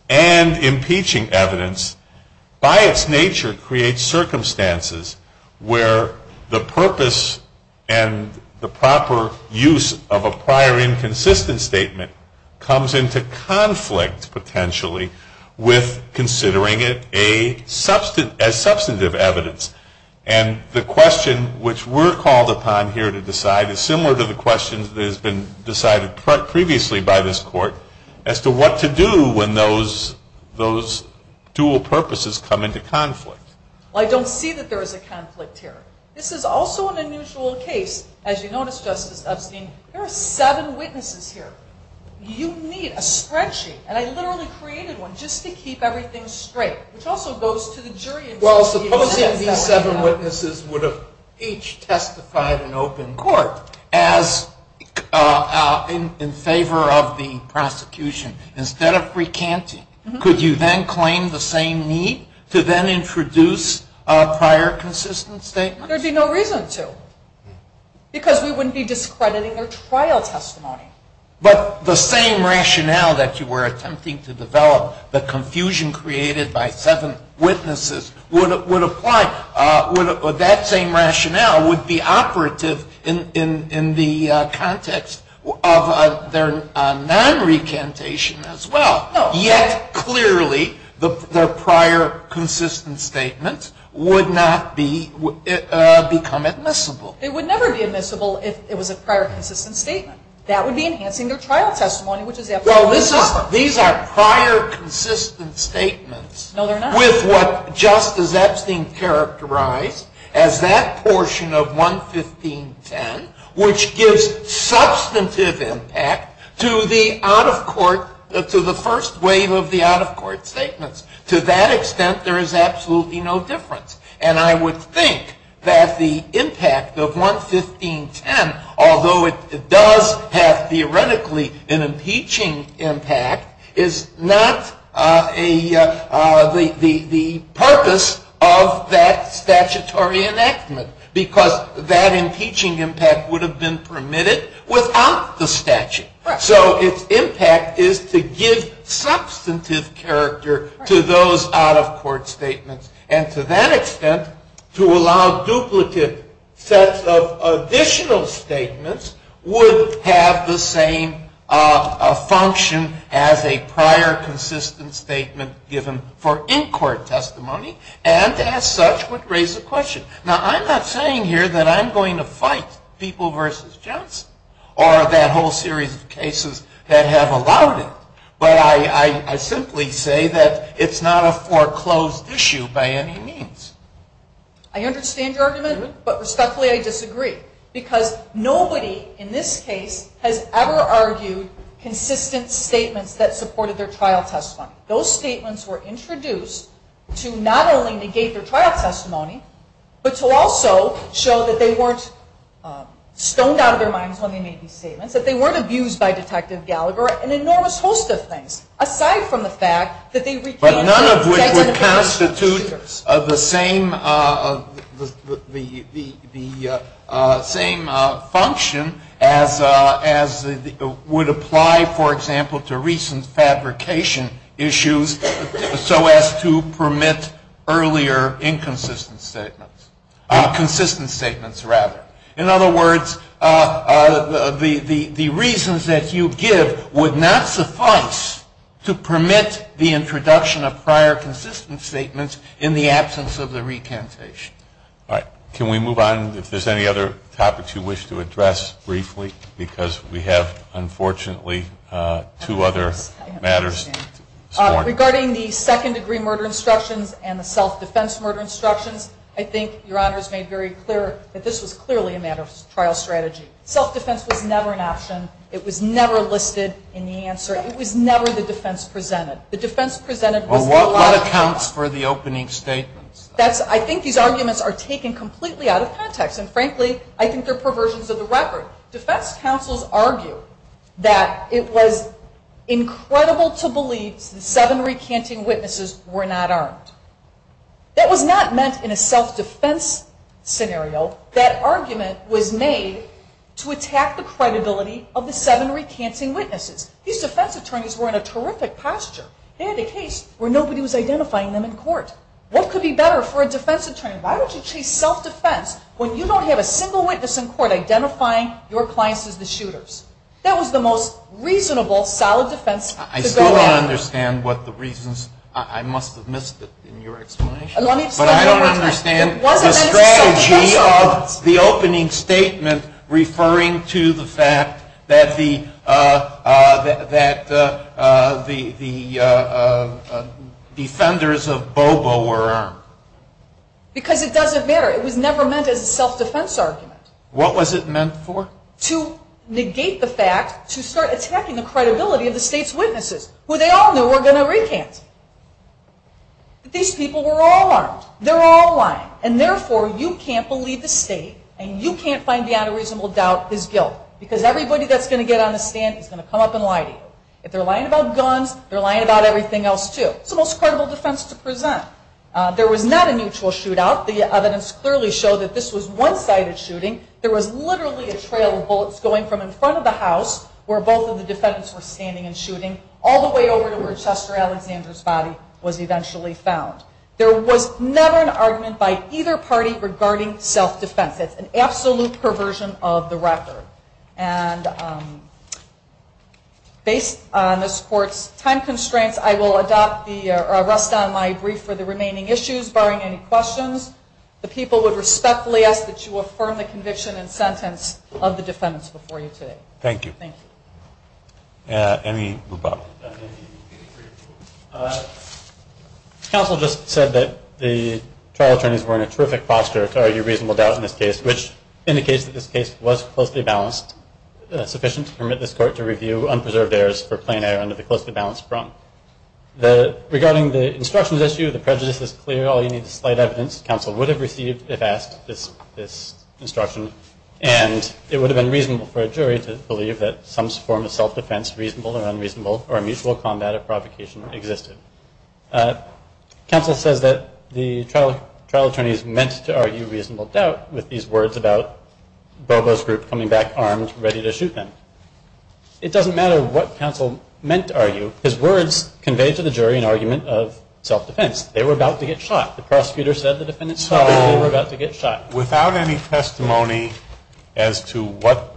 and impeaching evidence, by its nature creates circumstances where the purpose and the proper use of a prior inconsistent statement comes into conflict, potentially, with considering it as substantive evidence. And the question which we're called upon here to decide is similar to the questions that has been decided previously by this court, as to what to do when those dual purposes come into conflict. Well, I don't see that there is a conflict here. This is also an unusual case. As you notice, Justice Epstein, there are seven witnesses here. You need a spreadsheet, and I literally created one just to keep everything straight, which also goes to the jury. Well, supposing these seven witnesses would have each testified in open court in favor of the prosecution, instead of recanting, could you then claim the same need to then introduce a prior consistent statement? There would be no reason to, because we wouldn't be discrediting their trial testimony. But the same rationale that you were attempting to develop, the confusion created by seven witnesses, would apply. That same rationale would be operative in the context of their non-recantation as well. Yet, clearly, their prior consistent statement would not become admissible. It would never be admissible if it was a prior consistent statement. That would be enhancing their trial testimony, which is absolutely necessary. Well, these are prior consistent statements with what Justice Epstein characterized as that portion of 11510, which gives substantive impact to the out-of-court, to the first wave of the out-of-court statements. To that extent, there is absolutely no difference. And I would think that the impact of 11510, although it does have theoretically an impeaching impact, is not the purpose of that statutory enactment. Because that impeaching impact would have been permitted without the statute. So its impact is to give substantive character to those out-of-court statements. And to that extent, to allow duplicate sets of additional statements would have the same function as a prior consistent statement given for in-court testimony. And as such would raise a question. Now, I'm not saying here that I'm going to fight People v. Johnson or that whole series of cases that have allowed it. But I simply say that it's not a foreclosed issue by any means. I understand your argument, but respectfully I disagree. Because nobody in this case has ever argued consistent statements that supported their trial testimony. Those statements were introduced to not only negate their trial testimony, but to also show that they weren't stoned out of their minds when they made these statements. That they weren't abused by Detective Gallagher. An enormous host of things, aside from the fact that they retained their testimony. But none of which would constitute the same function as would apply, for example, to recent fabrication issues so as to permit earlier inconsistent statements. Consistent statements, rather. In other words, the reasons that you give would not suffice to permit the introduction of prior consistent statements in the absence of the recantation. All right. Can we move on? If there's any other topics you wish to address briefly? Because we have, unfortunately, two other matters. Regarding the second-degree murder instructions and the self-defense murder instructions, I think Your Honor's made very clear that this was clearly a matter of trial strategy. Self-defense was never an option. It was never listed in the answer. It was never the defense presented. Well, what accounts for the opening statements? I think these arguments are taken completely out of context. And frankly, I think they're perversions of the record. Defense counsels argue that it was incredible to believe the seven recanting witnesses were not armed. That was not meant in a self-defense scenario. That argument was made to attack the credibility of the seven recanting witnesses. These defense attorneys were in a terrific posture. They had a case where nobody was identifying them in court. What could be better for a defense attorney? Why would you chase self-defense when you don't have a single witness in court identifying your clients as the shooters? That was the most reasonable, solid defense to go after. I still don't understand what the reasons – I must have missed it in your explanation. But I don't understand the strategy of the opening statement referring to the fact that the defenders of Bobo were armed. Because it doesn't matter. It was never meant as a self-defense argument. What was it meant for? To negate the fact, to start attacking the credibility of the state's witnesses, who they all knew were going to recant. These people were all armed. They're all lying. And therefore, you can't believe the state and you can't find beyond a reasonable doubt his guilt. Because everybody that's going to get on the stand is going to come up and lie to you. If they're lying about guns, they're lying about everything else too. It's the most credible defense to present. There was not a mutual shootout. The evidence clearly showed that this was one-sided shooting. There was literally a trail of bullets going from in front of the house, where both of the defendants were standing and shooting, all the way over to where Chester Alexander's body was eventually found. There was never an argument by either party regarding self-defense. That's an absolute perversion of the record. Based on this Court's time constraints, I will rest on my brief for the remaining issues. Barring any questions, the people would respectfully ask that you affirm the conviction and sentence of the defendants before you today. Thank you. Any rebuttal? Counsel just said that the trial attorneys were in a terrific posture to argue reasonable doubt in this case, which indicates that this case was closely balanced, sufficient to permit this Court to review unpreserved errors for plain error under the closely balanced prong. Regarding the instructions issue, the prejudice is clear. All you need is slight evidence. Counsel would have received, if asked, this instruction. And it would have been reasonable for a jury to believe that some form of self-defense, reasonable or unreasonable, or a mutual combat of provocation existed. Counsel says that the trial attorneys meant to argue reasonable doubt with these words about Bobo's group coming back armed, ready to shoot them. It doesn't matter what Counsel meant to argue. His words conveyed to the jury an argument of self-defense. They were about to get shot. The prosecutor said the defendants were about to get shot. Without any testimony as to what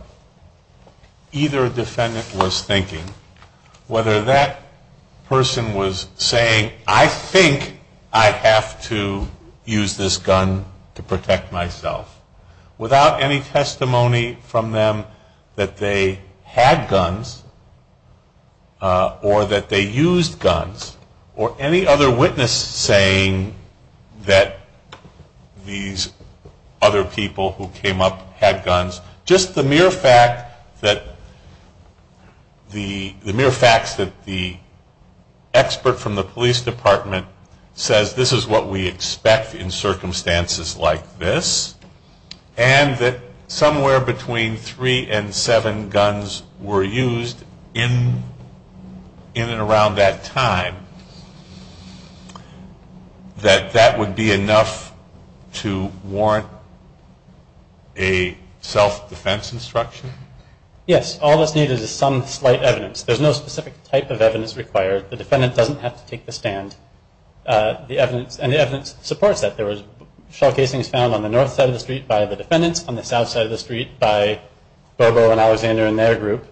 either defendant was thinking, whether that person was saying, I think I have to use this gun to protect myself, without any testimony from them that they had guns, or that they used guns, or any other witness saying that these other people who came up had guns, just the mere fact that the expert from the police department says this is what we expect in circumstances like this, and that somewhere between three and seven guns were used in and around that time, that that would be enough to warrant a self-defense instruction? Yes. All that's needed is some slight evidence. There's no specific type of evidence required. The defendant doesn't have to take the stand. And the evidence supports that. There was shell casings found on the north side of the street by the defendants, on the south side of the street by Bobo and Alexander and their group.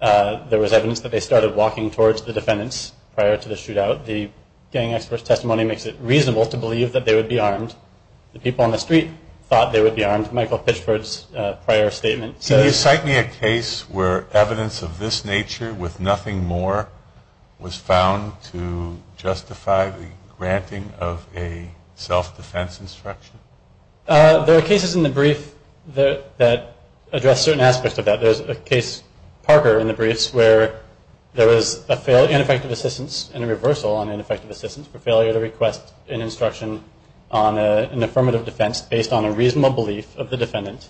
There was evidence that they started walking towards the defendants prior to the shootout. The gang expert's testimony makes it reasonable to believe that they would be armed. The people on the street thought they would be armed, Michael Pitchford's prior statement. Can you cite me a case where evidence of this nature with nothing more was found to justify the granting of a self-defense instruction? There are cases in the brief that address certain aspects of that. There's a case, Parker, in the briefs, where there was an ineffective assistance and a reversal on ineffective assistance for failure to request an instruction on an affirmative defense based on a reasonable belief of the defendant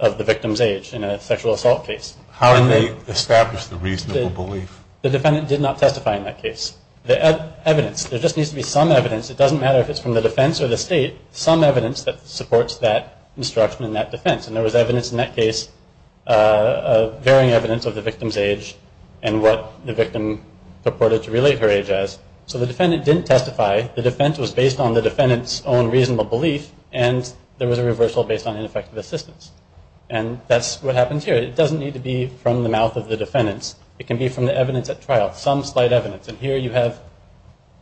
of the victim's age in a sexual assault case. How did they establish the reasonable belief? The defendant did not testify in that case. Evidence. There just needs to be some evidence. It doesn't matter if it's from the defense or the state. Some evidence that supports that instruction and that defense. And there was evidence in that case, varying evidence of the victim's age and what the victim purported to relate her age as. So the defendant didn't testify. The defense was based on the defendant's own reasonable belief and there was a reversal based on ineffective assistance. And that's what happens here. It doesn't need to be from the mouth of the defendants. It can be from the evidence at trial. Some slight evidence. And here you have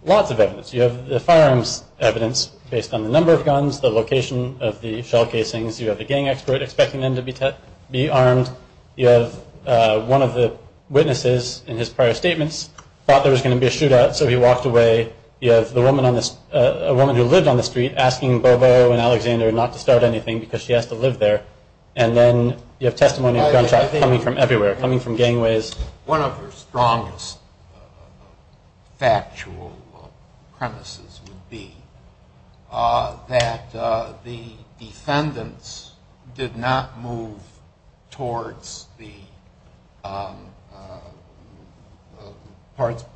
lots of evidence. You have the firearms evidence based on the number of guns, the location of the shell casings. You have the gang expert expecting them to be armed. You have one of the witnesses in his prior statements thought there was going to be a shootout so he walked away. You have a woman who lived on the street asking Bobo and Alexander not to start anything because she has to live there. And then you have testimony of gunshots coming from everywhere, coming from gangways. One of her strongest factual premises would be that the defendants did not move towards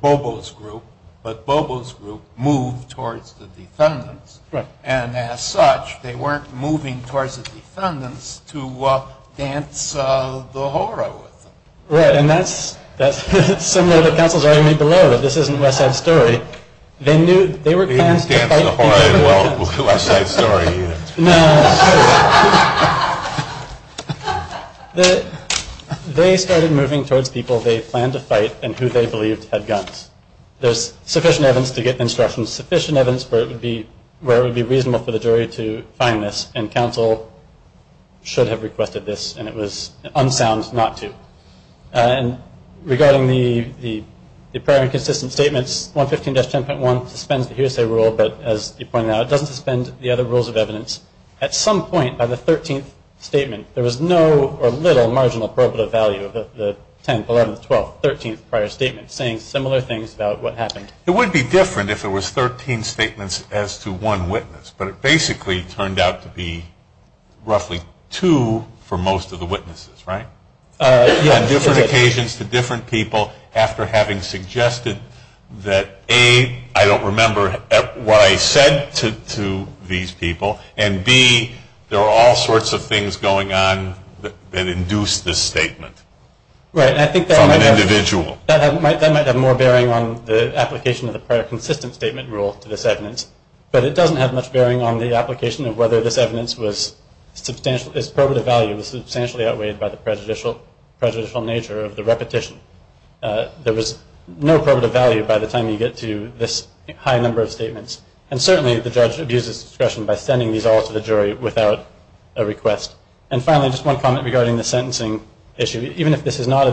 Bobo's group, but Bobo's group moved towards the defendants. And as such, they weren't moving towards the defendants to dance the horror with them. Right. And that's similar to Counsel's argument below that this isn't West Side Story. They didn't dance the horror in West Side Story either. They started moving towards people they planned to fight and who they believed had guns. There's sufficient evidence to get instructions, sufficient evidence where it would be reasonable for the jury to find this. And Counsel should have requested this and it was unsound not to. And regarding the prior inconsistent statements, 115-10.1 suspends the hearsay rule, but as you pointed out, it doesn't suspend the other rules of evidence. At some point by the 13th statement, there was no or little marginal verbal value of the 10th, 11th, 12th, 13th prior statements saying similar things about what happened. It would be different if it was 13 statements as to one witness, but it basically turned out to be roughly two for most of the witnesses, right? On different occasions to different people after having suggested that A, I don't remember what I said to these people, and B, there are all sorts of things going on that induce this statement from an individual. Right, and I think that might have more bearing on the application of the prior consistent statement rule to this evidence, but it doesn't have much bearing on the application of whether this evidence's probative value was substantially outweighed by the prejudicial nature of the repetition. There was no probative value by the time you get to this high number of statements. And certainly, the judge abuses discretion by sending these all to the jury without a request. And finally, just one comment regarding the sentencing issue. Even if this is not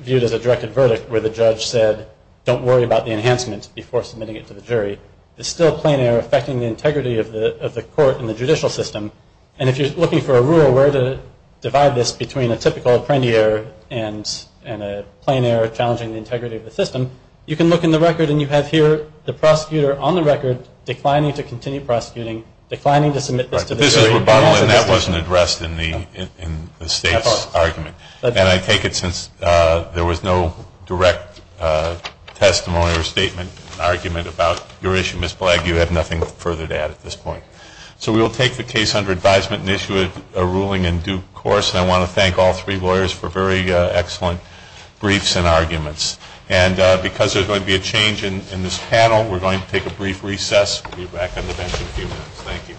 viewed as a directed verdict, where the judge said, don't worry about the enhancements before submitting it to the jury, it's still a plain error affecting the integrity of the court and the judicial system, and if you're looking for a rule where to divide this between a typical apprendee error and a plain error challenging the integrity of the system, you can look in the record, and you have here the prosecutor on the record declining to continue prosecuting, declining to submit this to the jury. Right, but this is rebuttal, and that wasn't addressed in the State's argument. And I take it since there was no direct testimony or statement or argument about your issue, Ms. Blagg, you have nothing further to add at this point. So we will take the case under advisement and issue a ruling in due course, and I want to thank all three lawyers for very excellent briefs and arguments. And because there's going to be a change in this panel, we're going to take a brief recess. We'll be back on the bench in a few minutes. Thank you.